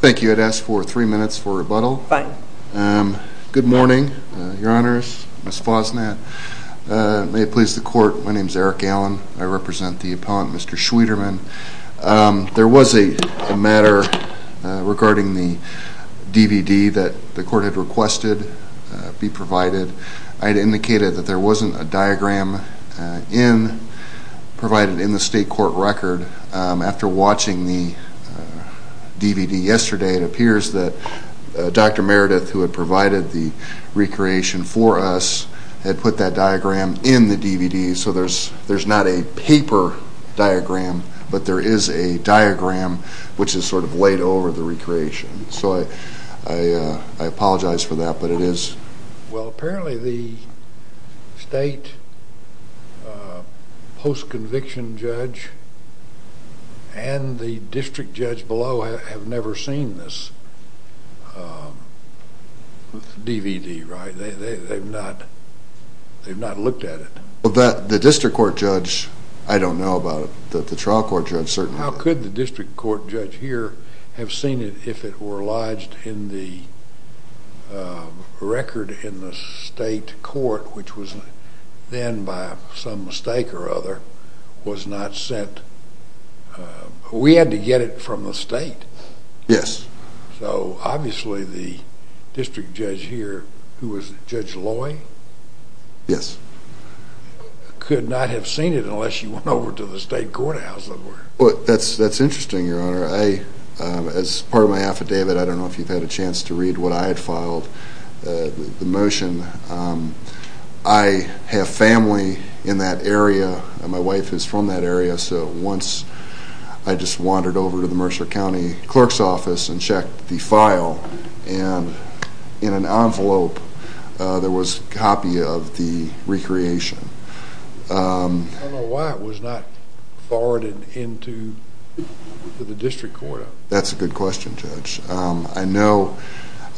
Thank you. I'd ask for three minutes for rebuttal. Fine. Good morning, Your Honors, Ms. Fosnatt. May it please the Court, my name is Eric Allen. I represent the Appellant, Mr. Schwieterman. There was a matter regarding the DVD that the Court had requested be provided. I had indicated that there wasn't a diagram provided in the state court record. After watching the DVD yesterday, it appears that Dr. Meredith, who had provided the recreation for us, had put that diagram in the DVD, so there's not a paper diagram, but there is a diagram which is sort of laid over the recreation. So I apologize for that, but it is. Well, apparently the state post-conviction judge and the district judge below have never seen this DVD, right? They've not looked at it. Well, the district court judge, I don't know about it, but the trial court judge certainly has. How could the district court judge here have seen it if it were lodged in the record in the state court, which was then, by some mistake or other, was not sent? We had to get it from the state. Yes. So obviously the district judge here, who was Judge Loy? Yes. Could not have seen it unless you went over to the state courthouse somewhere. Well, that's interesting, Your Honor. As part of my affidavit, I don't know if you've had a chance to read what I had filed, the motion. I have family in that area, and my wife is from that area, so once I just wandered over to the Mercer County clerk's office and checked the file, and in an envelope there was a copy of the recreation. I don't know why it was not forwarded into the district court. That's a good question, Judge. I know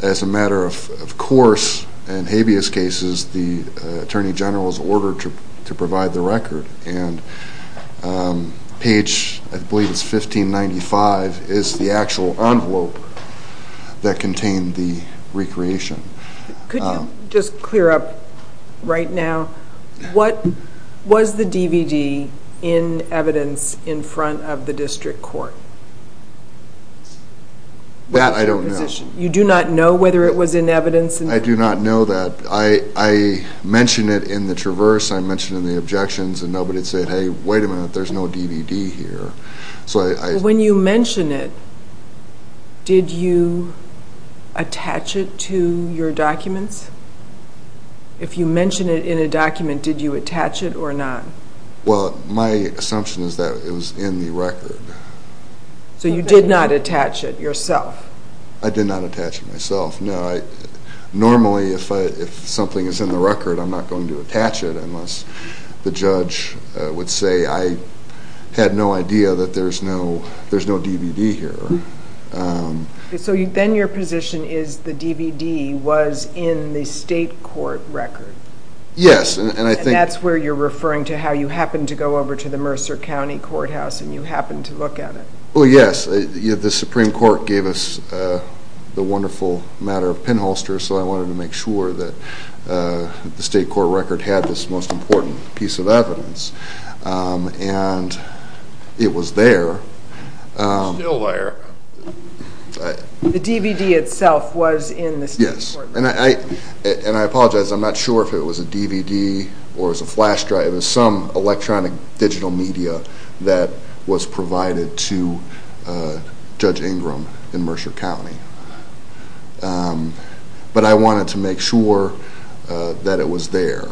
as a matter of course, in habeas cases, the attorney general is ordered to provide the record, and page, I believe it's 1595, is the actual envelope that contained the recreation. Could you just clear up right now, what was the DVD in evidence in front of the district court? That I don't know. You do not know whether it was in evidence? I do not know that. I mentioned it in the traverse, I mentioned it in the objections, and nobody said, hey, wait a minute, there's no DVD here. When you mention it, did you attach it to your documents? If you mention it in a document, did you attach it or not? Well, my assumption is that it was in the record. So you did not attach it yourself? I did not attach it myself. Normally, if something is in the record, I'm not going to attach it unless the judge would say I had no idea that there's no DVD here. So then your position is the DVD was in the state court record? Yes. And that's where you're referring to how you happened to go over to the Mercer County Courthouse and you happened to look at it? Oh, yes. The Supreme Court gave us the wonderful matter of pinholsters, so I wanted to make sure that the state court record had this most important piece of evidence. And it was there. It's still there. And I apologize. I'm not sure if it was a DVD or it was a flash drive. It was some electronic digital media that was provided to Judge Ingram in Mercer County. But I wanted to make sure that it was there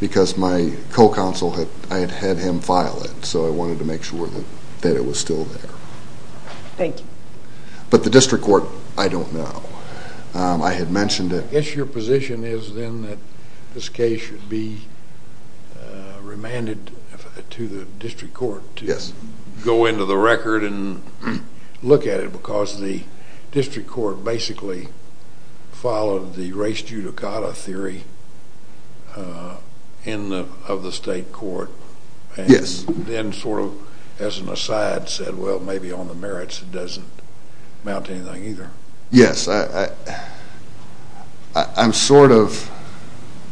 because my co-counsel, I had had him file it, so I wanted to make sure that it was still there. Thank you. But the district court, I don't know. I had mentioned it. I guess your position is then that this case should be remanded to the district court to go into the record and look at it because the district court basically followed the race judicata theory of the state court. Yes. And then sort of as an aside said, well, maybe on the merits it doesn't amount to anything either. Yes. I'm sort of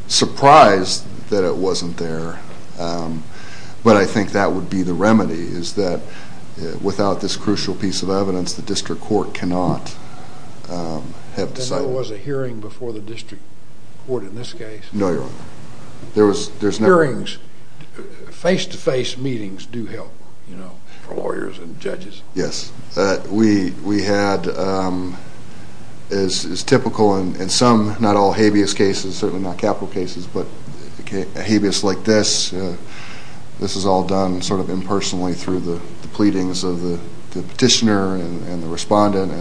surprised that it wasn't there, but I think that would be the remedy is that without this crucial piece of evidence, the district court cannot have decided. And there was a hearing before the district court in this case? No, Your Honor. Hearings, face-to-face meetings do help for lawyers and judges. Yes. We had as typical in some, not all habeas cases, certainly not capital cases, but habeas like this, this is all done sort of impersonally through the pleadings of the petitioner and the respondent.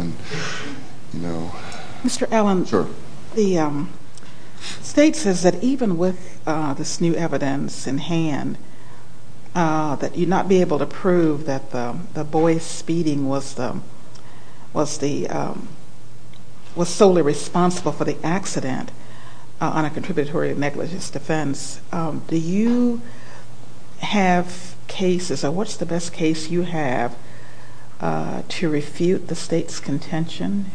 Mr. Allen, the state says that even with this new evidence in hand, that you'd not be able to prove that the boy speeding was solely responsible for the accident on a contributory negligence defense. Do you have cases, or what's the best case you have to refute the state's contention?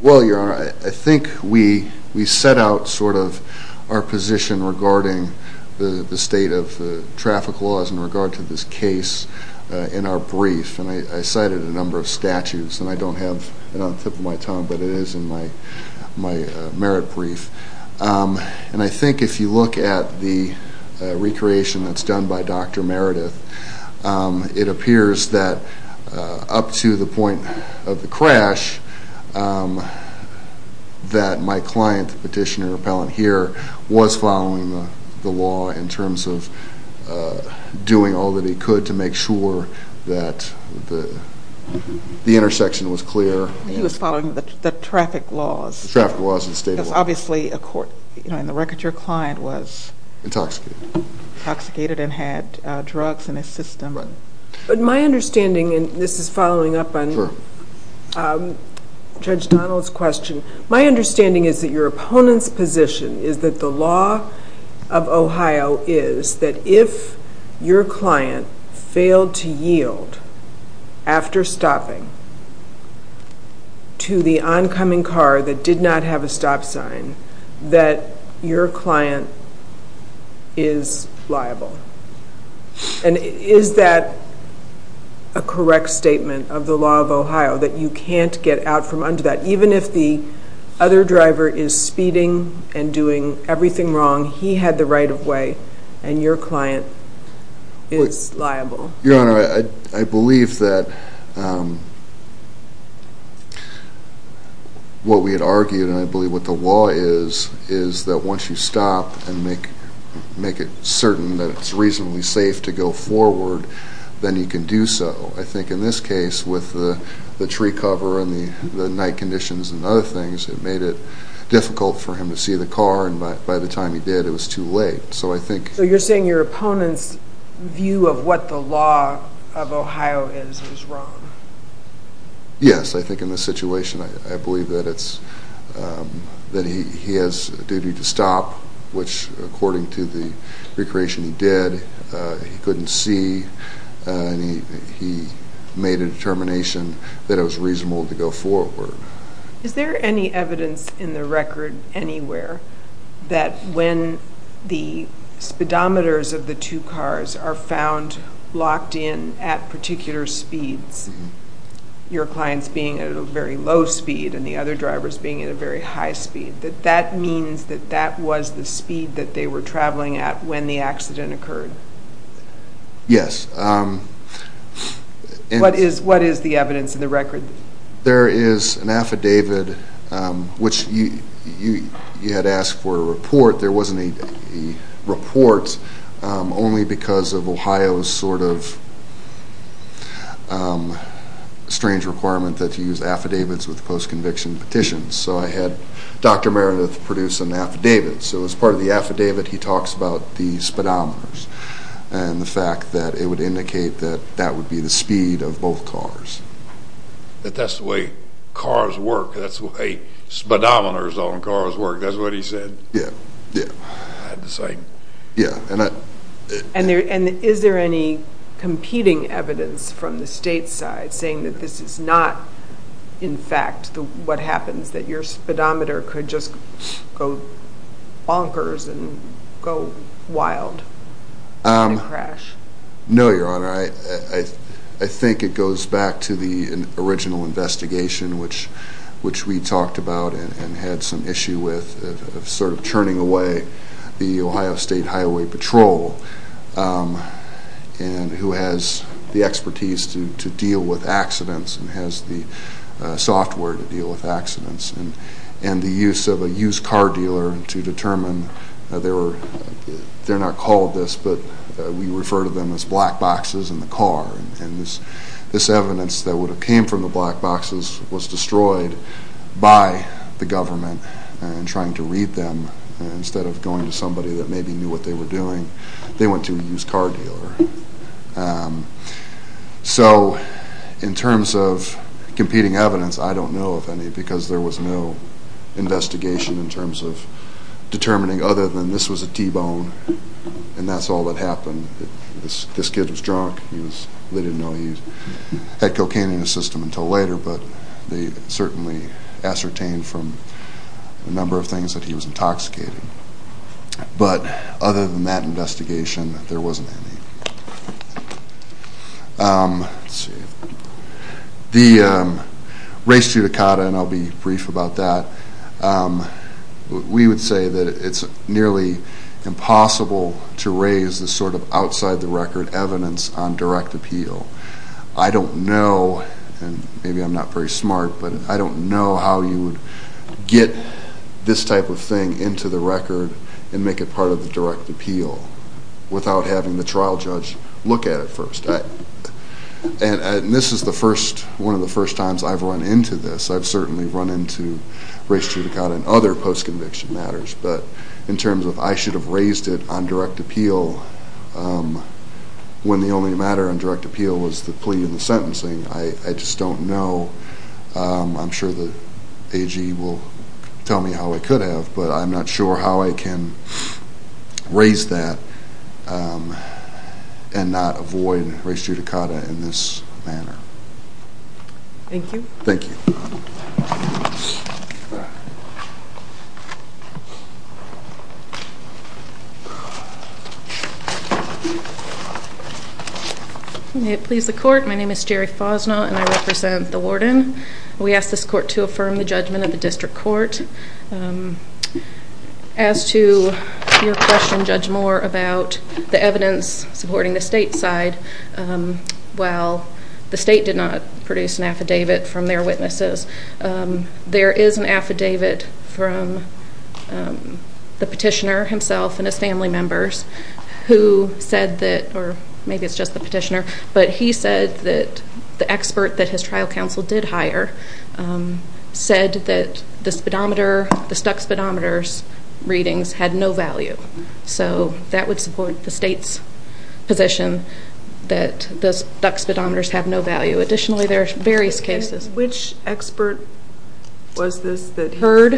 Well, Your Honor, I think we set out sort of our position regarding the state of traffic laws in regard to this case in our brief. And I cited a number of statutes, and I don't have it on the tip of my tongue, but it is in my merit brief. And I think if you look at the recreation that's done by Dr. Meredith, it appears that up to the point of the crash, that my client, the petitioner repellent here, was following the law in terms of doing all that he could to make sure that the intersection was clear. He was following the traffic laws. Because obviously, in the record, your client was intoxicated and had drugs in his system. But my understanding, and this is following up on Judge Donald's question, my understanding is that your opponent's position is that the law of Ohio is that if your client failed to yield after stopping to the oncoming car that did not have a stop sign, that your client is liable. And is that a correct statement of the law of Ohio, that you can't get out from under that, even if the other driver is speeding and doing everything wrong, he had the right-of-way, and your client is liable? Your Honor, I believe that what we had argued, and I believe what the law is, is that once you stop and make it certain that it's reasonably safe to go forward, then you can do so. I think in this case, with the tree cover and the night conditions and other things, it made it difficult for him to see the car, and by the time he did, it was too late. So you're saying your opponent's view of what the law of Ohio is, is wrong? Yes. I think in this situation, I believe that he has a duty to stop, which according to the recreation he did, he couldn't see, and he made a determination that it was reasonable to go forward. Is there any evidence in the record, anywhere, that when the speedometers of the two cars are found locked in at particular speeds, your clients being at a very low speed and the other drivers being at a very high speed, that that means that that was the speed that they were traveling at when the accident occurred? Yes. What is the evidence in the record? There is an affidavit, which you had asked for a report. There wasn't a report, only because of Ohio's sort of strange requirement that you use affidavits with post-conviction petitions. So I had Dr. Meredith produce an affidavit. So as part of the affidavit, he talks about the speedometers and the fact that it would indicate that that would be the speed of both cars. That that's the way cars work, that's the way speedometers on cars work, that's what he said? Yes. And is there any competing evidence from the state side saying that this is not, in fact, what happens, that your speedometer could just go bonkers and go wild in a crash? No, Your Honor. I think it goes back to the original investigation, which we talked about and had some issue with, of sort of churning away the Ohio State Highway Patrol, who has the expertise to deal with accidents and has the software to deal with accidents. And the use of a used car dealer to determine, they're not called this, but we refer to them as black boxes in the car. And this evidence that would have came from the black boxes was destroyed by the government in trying to read them, instead of going to somebody that maybe knew what they were doing. They went to a used car dealer. So in terms of competing evidence, I don't know of any, because there was no investigation in terms of determining other than this was a T-bone and that's all that happened. This kid was drunk. They didn't know he had cocaine in his system until later, but they certainly ascertained from a number of things that he was intoxicated. But other than that investigation, there wasn't any. The race judicata, and I'll be brief about that. We would say that it's nearly impossible to raise this sort of outside the record evidence on direct appeal. I don't know, and maybe I'm not very smart, but I don't know how you would get this type of thing into the record and make it part of the direct appeal without having the trial judge look at it first. And this is one of the first times I've run into this. I've certainly run into race judicata in other post-conviction matters, but in terms of I should have raised it on direct appeal when the only matter on direct appeal was the plea and the sentencing, I just don't know. I'm sure the AG will tell me how I could have, but I'm not sure how I can raise that and not avoid race judicata in this manner. Thank you. Thank you. May it please the court, my name is Jerry Fosnaught and I represent the warden. We ask this court to affirm the judgment of the district court. As to your question, Judge Moore, about the evidence supporting the state side, while the state did not produce an affidavit from their witnesses, there is an affidavit from the petitioner himself and his family members who said that, or maybe it's just the petitioner, but he said that the expert that his trial counsel did hire said that the stuck speedometer readings had no value. So that would support the state's position that the stuck speedometers have no value. Additionally, there are various cases. Which expert was this that heard?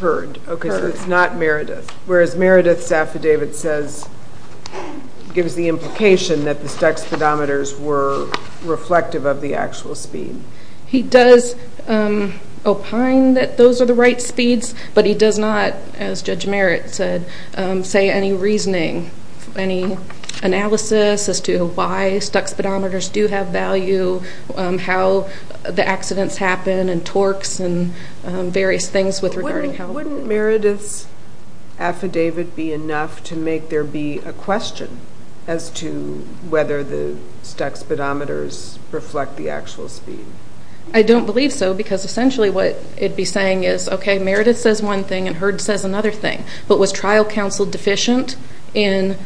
Heard. Okay, so it's not Meredith. Whereas Meredith's affidavit says, gives the implication that the stuck speedometers were reflective of the actual speed. He does opine that those are the right speeds, but he does not, as Judge Merritt said, say any reasoning, any analysis as to why stuck speedometers do have value, how the accidents happen and torques and various things with regard to health. Wouldn't Meredith's affidavit be enough to make there be a question as to whether the stuck speedometers reflect the actual speed? I don't believe so, because essentially what it would be saying is, okay, Meredith says one thing and Heard says another thing, but was trial counsel deficient in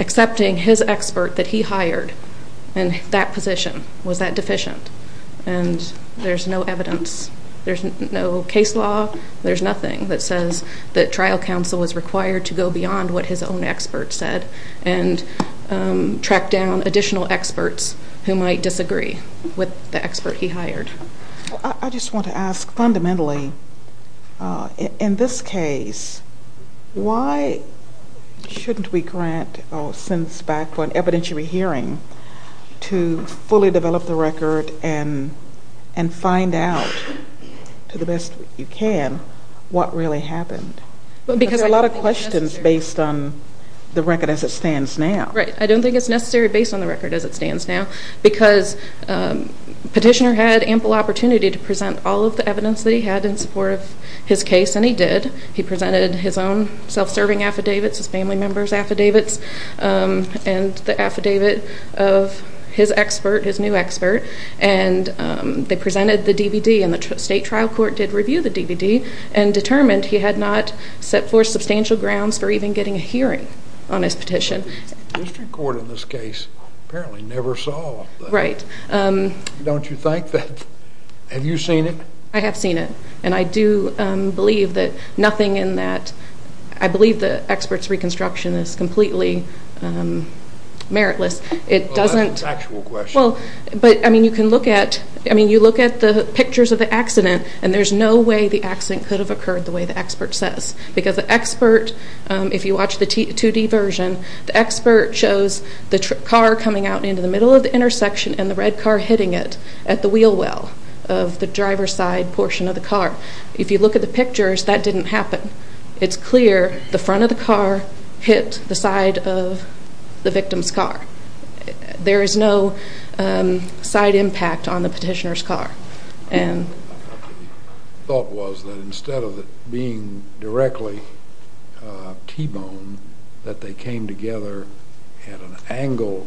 accepting his expert that he hired in that position? Was that deficient? And there's no evidence, there's no case law, there's nothing that says that trial counsel was required to go beyond what his own expert said and track down additional experts who might disagree with the expert he hired. I just want to ask fundamentally, in this case, why shouldn't we grant or send this back for an evidentiary hearing to fully develop the record and find out, to the best you can, what really happened? There's a lot of questions based on the record as it stands now. Right, I don't think it's necessary based on the record as it stands now, because Petitioner had ample opportunity to present all of the evidence that he had in support of his case, and he did. He presented his own self-serving affidavits, his family member's affidavits, and the affidavit of his expert, his new expert, and they presented the DVD and the state trial court did review the DVD and determined he had not set forth substantial grounds for even getting a hearing on his petition. The district court in this case apparently never saw that. Right. Don't you think that? Have you seen it? I have seen it, and I do believe that nothing in that, I believe the expert's reconstruction is completely meritless. That's a factual question. You can look at the pictures of the accident, and there's no way the accident could have occurred the way the expert says. Because the expert, if you watch the 2D version, the expert shows the car coming out into the middle of the intersection and the red car hitting it at the wheel well of the driver's side portion of the car. If you look at the pictures, that didn't happen. It's clear the front of the car hit the side of the victim's car. There is no side impact on the petitioner's car. The thought was that instead of it being directly T-bone, that they came together at an angle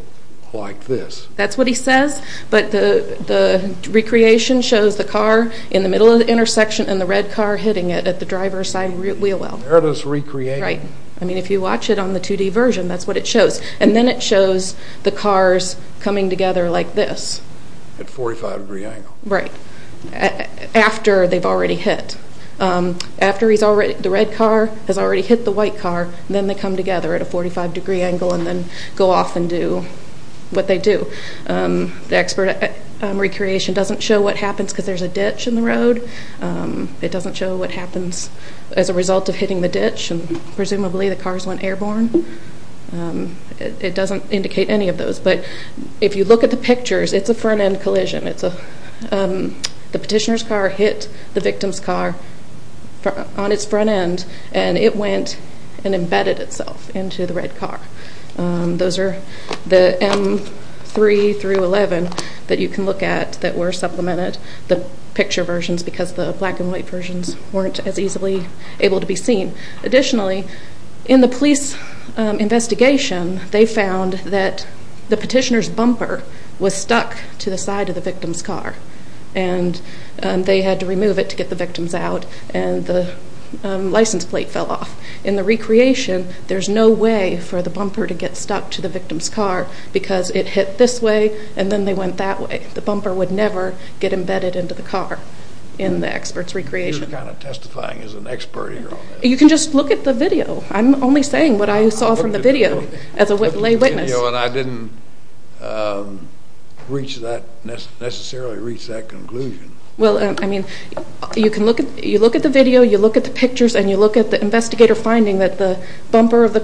like this. That's what he says, but the recreation shows the car in the middle of the intersection and the red car hitting it at the driver's side wheel well. Meritless recreation. Right. I mean, if you watch it on the 2D version, that's what it shows. And then it shows the cars coming together like this. At a 45 degree angle. Right. After they've already hit. After the red car has already hit the white car, then they come together at a 45 degree angle and then go off and do what they do. The expert recreation doesn't show what happens because there's a ditch in the road. Presumably the cars went airborne. It doesn't indicate any of those, but if you look at the pictures, it's a front end collision. The petitioner's car hit the victim's car on its front end and it went and embedded itself into the red car. Those are the M3 through 11 that you can look at that were supplemented. The picture versions, because the black and white versions weren't as easily able to be seen. Additionally, in the police investigation, they found that the petitioner's bumper was stuck to the side of the victim's car. And they had to remove it to get the victims out and the license plate fell off. In the recreation, there's no way for the bumper to get stuck to the victim's car because it hit this way and then they went that way. The bumper would never get embedded into the car in the expert's recreation. You're kind of testifying as an expert here on this. You can just look at the video. I'm only saying what I saw from the video as a lay witness. I looked at the video and I didn't reach that, necessarily reach that conclusion. Well, I mean, you look at the video, you look at the pictures, and you look at the investigator finding that the bumper of the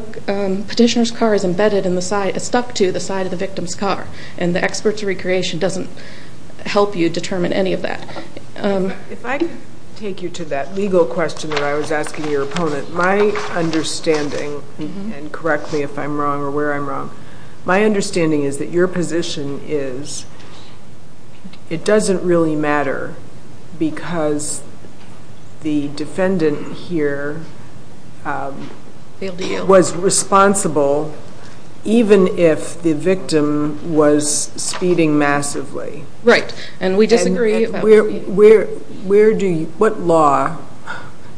petitioner's car is embedded and stuck to the side of the victim's car. And the expert's recreation doesn't help you determine any of that. If I can take you to that legal question that I was asking your opponent, my understanding, and correct me if I'm wrong or where I'm wrong, my understanding is that your position is it doesn't really matter because the defendant here was responsible even if the victim was speeding massively. Right, and we disagree about that. What law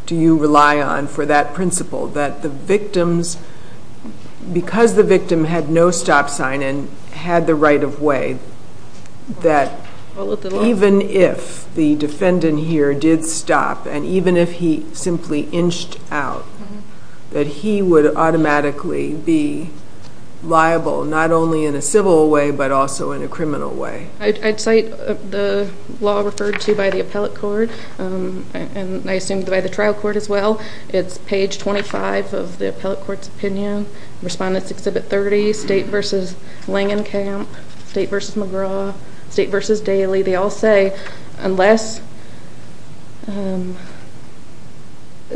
do you rely on for that principle, that the victims, because the victim had no stop sign and had the right of way, that even if the defendant here did stop and even if he simply inched out, that he would automatically be liable not only in a civil way but also in a criminal way? I'd cite the law referred to by the appellate court, and I assume by the trial court as well. It's page 25 of the appellate court's opinion, Respondents' Exhibit 30, State v. Langenkamp, State v. McGraw, State v. Daly. They all say unless a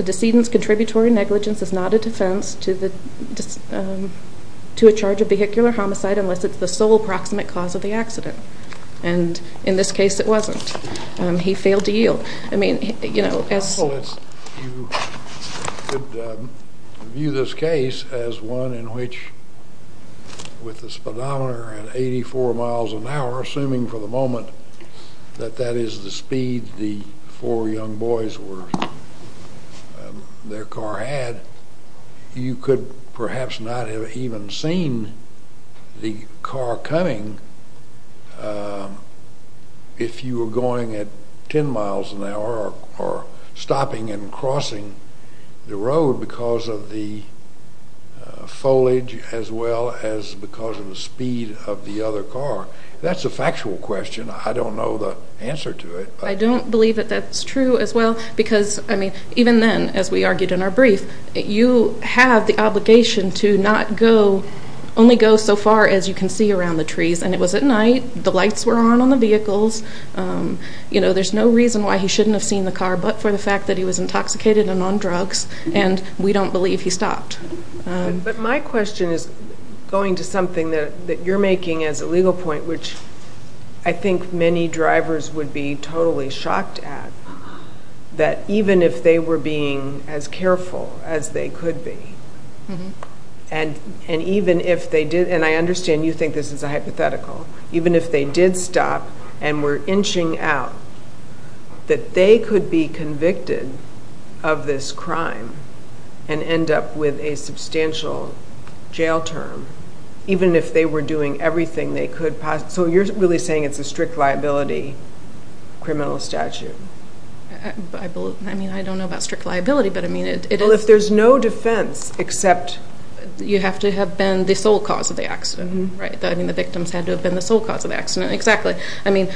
decedent's contributory negligence is not a defense to a charge of vehicular homicide unless it's the sole proximate cause of the accident. And in this case it wasn't. He failed to yield. It's possible that you could view this case as one in which with the speedometer at 84 miles an hour, assuming for the moment that that is the speed the four young boys were, their car had, you could perhaps not have even seen the car coming if you were going at 10 miles an hour or stopping and crossing the road because of the foliage as well as because of the speed of the other car. That's a factual question. I don't know the answer to it. I don't believe that that's true as well because, I mean, even then, as we argued in our brief, you have the obligation to not go, only go so far as you can see around the trees. And it was at night. The lights were on on the vehicles. You know, there's no reason why he shouldn't have seen the car but for the fact that he was intoxicated and on drugs, and we don't believe he stopped. But my question is going to something that you're making as a legal point, which I think many drivers would be totally shocked at, that even if they were being as careful as they could be, and even if they did, and I understand you think this is a hypothetical, even if they did stop and were inching out, that they could be convicted of this crime and end up with a substantial jail term, even if they were doing everything they could possibly. So you're really saying it's a strict liability criminal statute? I mean, I don't know about strict liability, but I mean, it is. Well, if there's no defense except... You have to have been the sole cause of the accident, right? I mean, the victims had to have been the sole cause of the accident, exactly. I mean,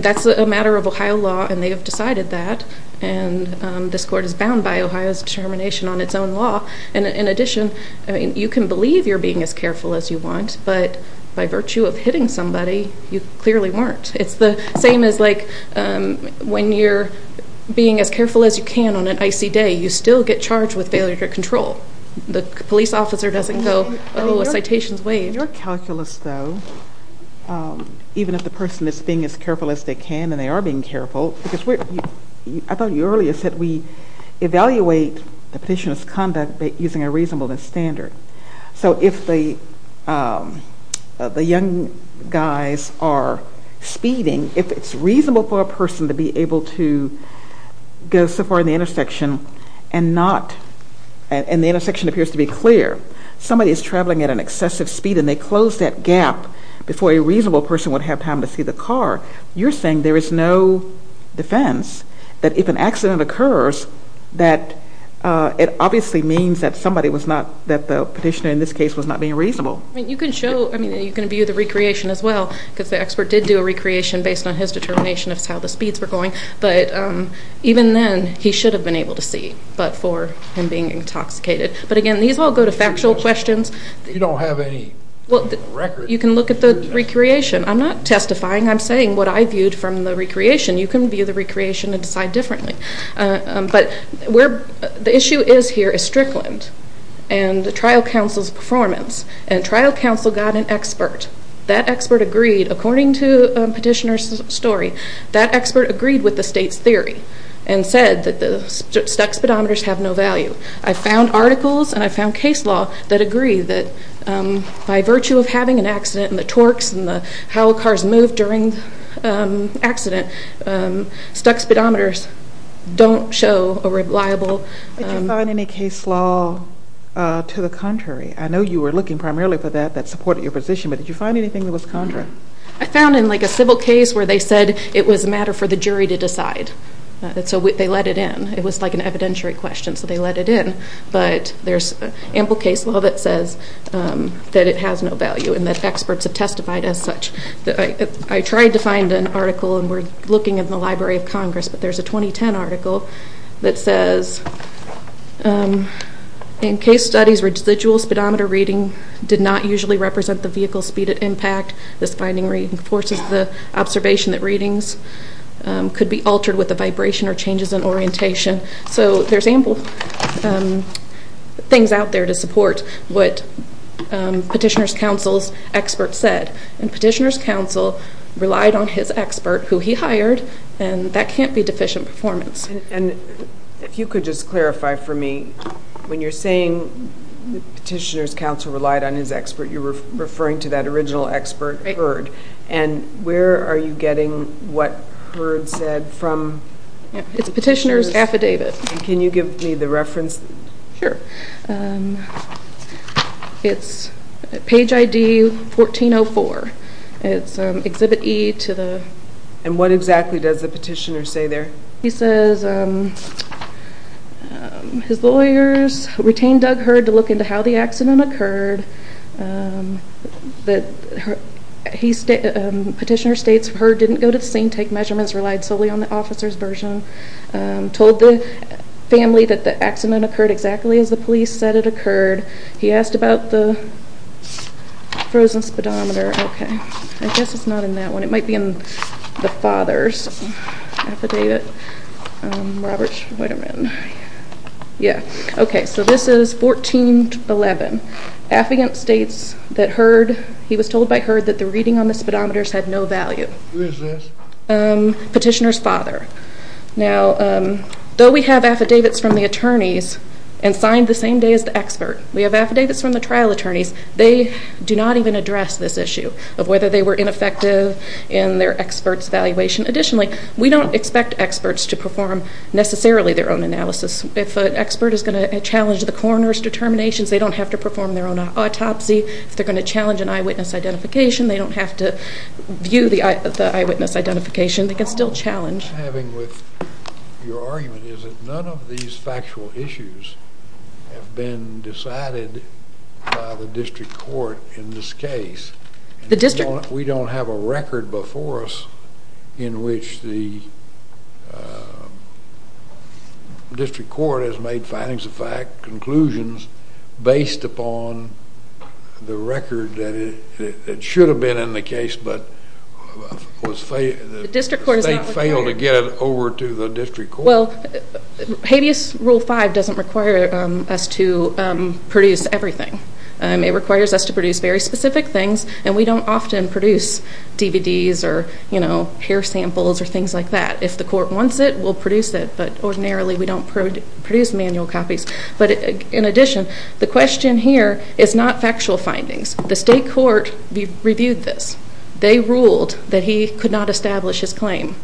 that's a matter of Ohio law, and they have decided that, and this court is bound by Ohio's determination on its own law. And in addition, you can believe you're being as careful as you want, but by virtue of hitting somebody, you clearly weren't. It's the same as, like, when you're being as careful as you can on an icy day, you still get charged with failure to control. The police officer doesn't go, oh, a citation's waived. In your calculus, though, even if the person is being as careful as they can, and they are being careful, because I thought you earlier said we evaluate the petitioner's conduct using a reasonableness standard. So if the young guys are speeding, if it's reasonable for a person to be able to go so far in the intersection and not, and the intersection appears to be clear, somebody is traveling at an excessive speed and they close that gap before a reasonable person would have time to see the car, you're saying there is no defense that if an accident occurs, that it obviously means that somebody was not, that the petitioner in this case was not being reasonable. I mean, you can show, I mean, you can view the recreation as well, because the expert did do a recreation based on his determination of how the speeds were going. But even then, he should have been able to see, but for him being intoxicated. But, again, these all go to factual questions. You don't have any record. You can look at the recreation. I'm not testifying. I'm saying what I viewed from the recreation. You can view the recreation and decide differently. But the issue is here is Strickland and the trial counsel's performance. And trial counsel got an expert. That expert agreed, according to petitioner's story, that expert agreed with the state's theory and said that the stuck speedometers have no value. I found articles and I found case law that agree that by virtue of having an accident and the torques and how cars move during the accident, stuck speedometers don't show a reliable. Did you find any case law to the contrary? I know you were looking primarily for that, that supported your position, but did you find anything that was contrary? I found in, like, a civil case where they said it was a matter for the jury to decide. So they let it in. It was, like, an evidentiary question, so they let it in. But there's ample case law that says that it has no value and that experts have testified as such. I tried to find an article, and we're looking in the Library of Congress, but there's a 2010 article that says, In case studies, residual speedometer reading did not usually represent the vehicle's speed at impact. This finding reinforces the observation that readings could be altered with a vibration or changes in orientation. So there's ample things out there to support what petitioner's counsel's expert said. And petitioner's counsel relied on his expert, who he hired, and that can't be deficient performance. And if you could just clarify for me, when you're saying petitioner's counsel relied on his expert, you're referring to that original expert, Hurd. And where are you getting what Hurd said from? It's a petitioner's affidavit. Can you give me the reference? Sure. It's page ID 1404. It's exhibit E to the... And what exactly does the petitioner say there? He says his lawyers retained Doug Hurd to look into how the accident occurred. Petitioner states Hurd didn't go to the scene, take measurements, relied solely on the officer's version, told the family that the accident occurred exactly as the police said it occurred. He asked about the frozen speedometer. Okay, I guess it's not in that one. It might be in the father's affidavit. Robert, wait a minute. Yeah, okay, so this is 1411. Affigant states that Hurd, he was told by Hurd that the reading on the speedometers had no value. Who is this? Petitioner's father. Now, though we have affidavits from the attorneys and signed the same day as the expert, we have affidavits from the trial attorneys, they do not even address this issue of whether they were ineffective in their expert's evaluation. Additionally, we don't expect experts to perform necessarily their own analysis. If an expert is going to challenge the coroner's determinations, they don't have to perform their own autopsy. If they're going to challenge an eyewitness identification, they don't have to view the eyewitness identification. They can still challenge. What I'm having with your argument is that none of these factual issues have been decided by the district court in this case. We don't have a record before us in which the district court has made findings of fact, conclusions, based upon the record that should have been in the case but was failed. The state failed to get it over to the district court? Habeas Rule 5 doesn't require us to produce everything. It requires us to produce very specific things, and we don't often produce DVDs or hair samples or things like that. If the court wants it, we'll produce it, but ordinarily we don't produce manual copies. But in addition, the question here is not factual findings. The state court reviewed this. They ruled that he could not establish his claim,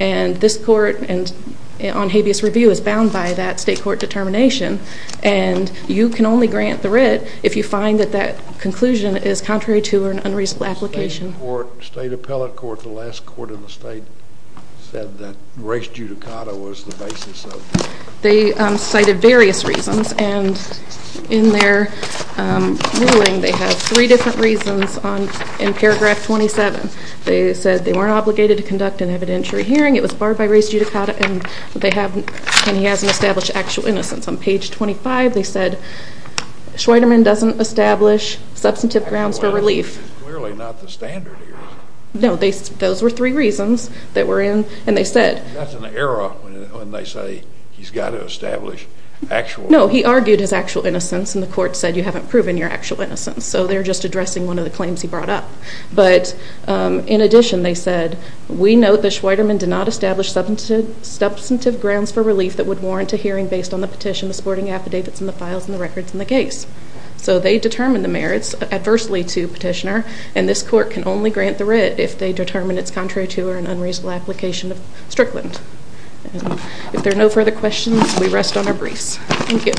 and this court on habeas review is bound by that state court determination, and you can only grant the writ if you find that that conclusion is contrary to an unreasonable application. State appellate court, the last court in the state, said that race judicata was the basis of it. They cited various reasons, and in their ruling, they have three different reasons in paragraph 27. They said they weren't obligated to conduct an evidentiary hearing, it was barred by race judicata, and he hasn't established actual innocence. On page 25, they said Schweiderman doesn't establish substantive grounds for relief. Clearly not the standard here. No, those were three reasons that were in, and they said. That's an error when they say he's got to establish actual. No, he argued his actual innocence, and the court said you haven't proven your actual innocence, so they're just addressing one of the claims he brought up. But in addition, they said, we note that Schweiderman did not establish substantive grounds for relief that would warrant a hearing based on the petition, the supporting affidavits, and the files and the records in the case. So they determined the merits adversely to petitioner, and this court can only grant the writ if they determine it's contrary to or an unreasonable application of Strickland. If there are no further questions, we rest on our briefs. Thank you.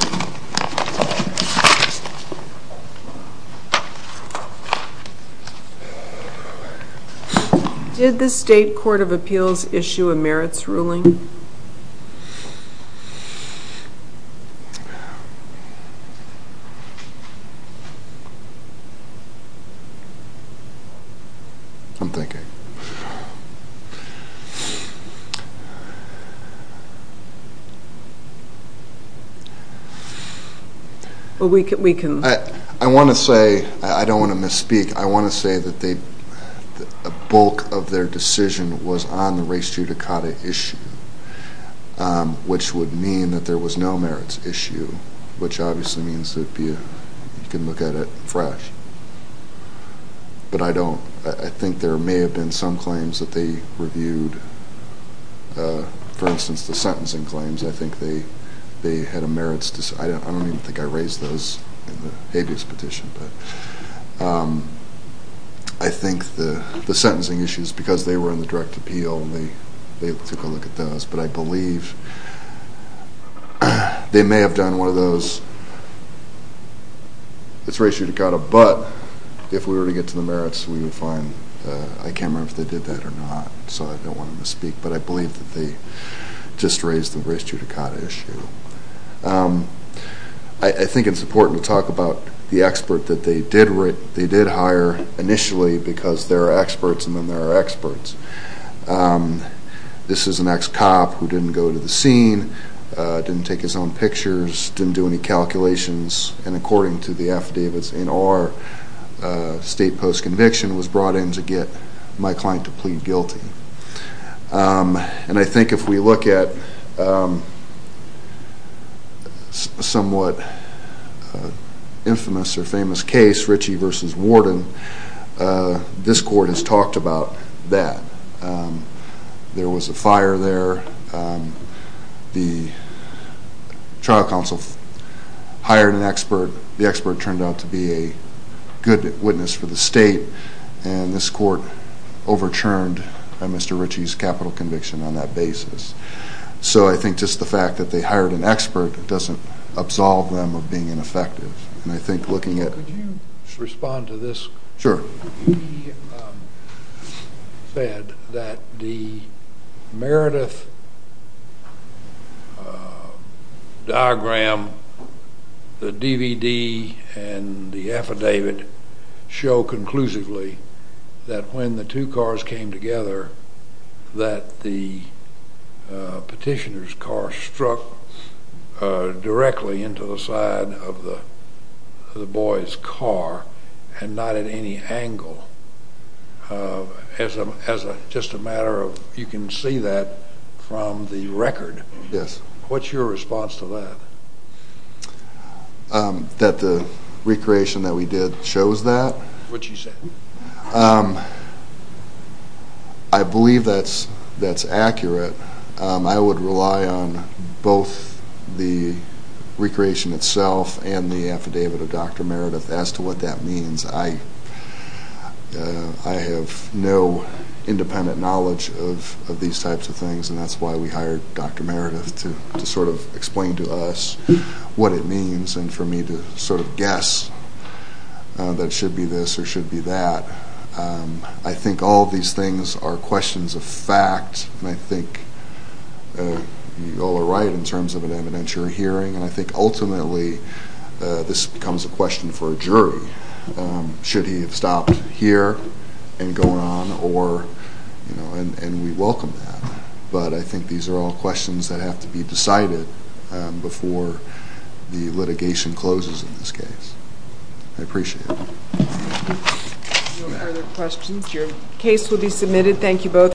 Did the state court of appeals issue a merits ruling? I'm thinking. Well, we can. I want to say, I don't want to misspeak, I want to say that a bulk of their decision was on the race judicata issue, which would mean that there was no merits issue, which obviously means that you can look at it fresh. But I don't. I think there may have been some claims that they reviewed. For instance, the sentencing claims, I think they had a merits decision. I don't even think I raised those in the habeas petition. But I think the sentencing issues, because they were in the direct appeal, they took a look at those. But I believe they may have done one of those. It's race judicata, but if we were to get to the merits, we would find. I can't remember if they did that or not, so I don't want to misspeak. But I believe that they just raised the race judicata issue. I think it's important to talk about the expert that they did hire initially because there are experts and then there are experts. This is an ex-cop who didn't go to the scene, didn't take his own pictures, didn't do any calculations, and according to the affidavits in our state post-conviction was brought in to get my client to plead guilty. And I think if we look at a somewhat infamous or famous case, Ritchie v. Warden, this court has talked about that. There was a fire there. The trial counsel hired an expert. The expert turned out to be a good witness for the state. And this court overturned Mr. Ritchie's capital conviction on that basis. So I think just the fact that they hired an expert doesn't absolve them of being ineffective. Could you respond to this? Sure. He said that the Meredith diagram, the DVD, and the affidavit show conclusively that when the two cars came together that the petitioner's car struck directly into the side of the boy's car and not at any angle. As just a matter of, you can see that from the record. Yes. What's your response to that? That the recreation that we did shows that? Which he said. I believe that's accurate. I would rely on both the recreation itself and the affidavit of Dr. Meredith as to what that means. I have no independent knowledge of these types of things, and that's why we hired Dr. Meredith to sort of explain to us what it means and for me to sort of guess that it should be this or it should be that. I think all of these things are questions of fact, and I think you all are right in terms of an evidentiary hearing. And I think ultimately this becomes a question for a jury. Should he have stopped here and gone on, and we welcome that. But I think these are all questions that have to be decided before the litigation closes in this case. I appreciate it. No further questions. Your case will be submitted. Thank you both.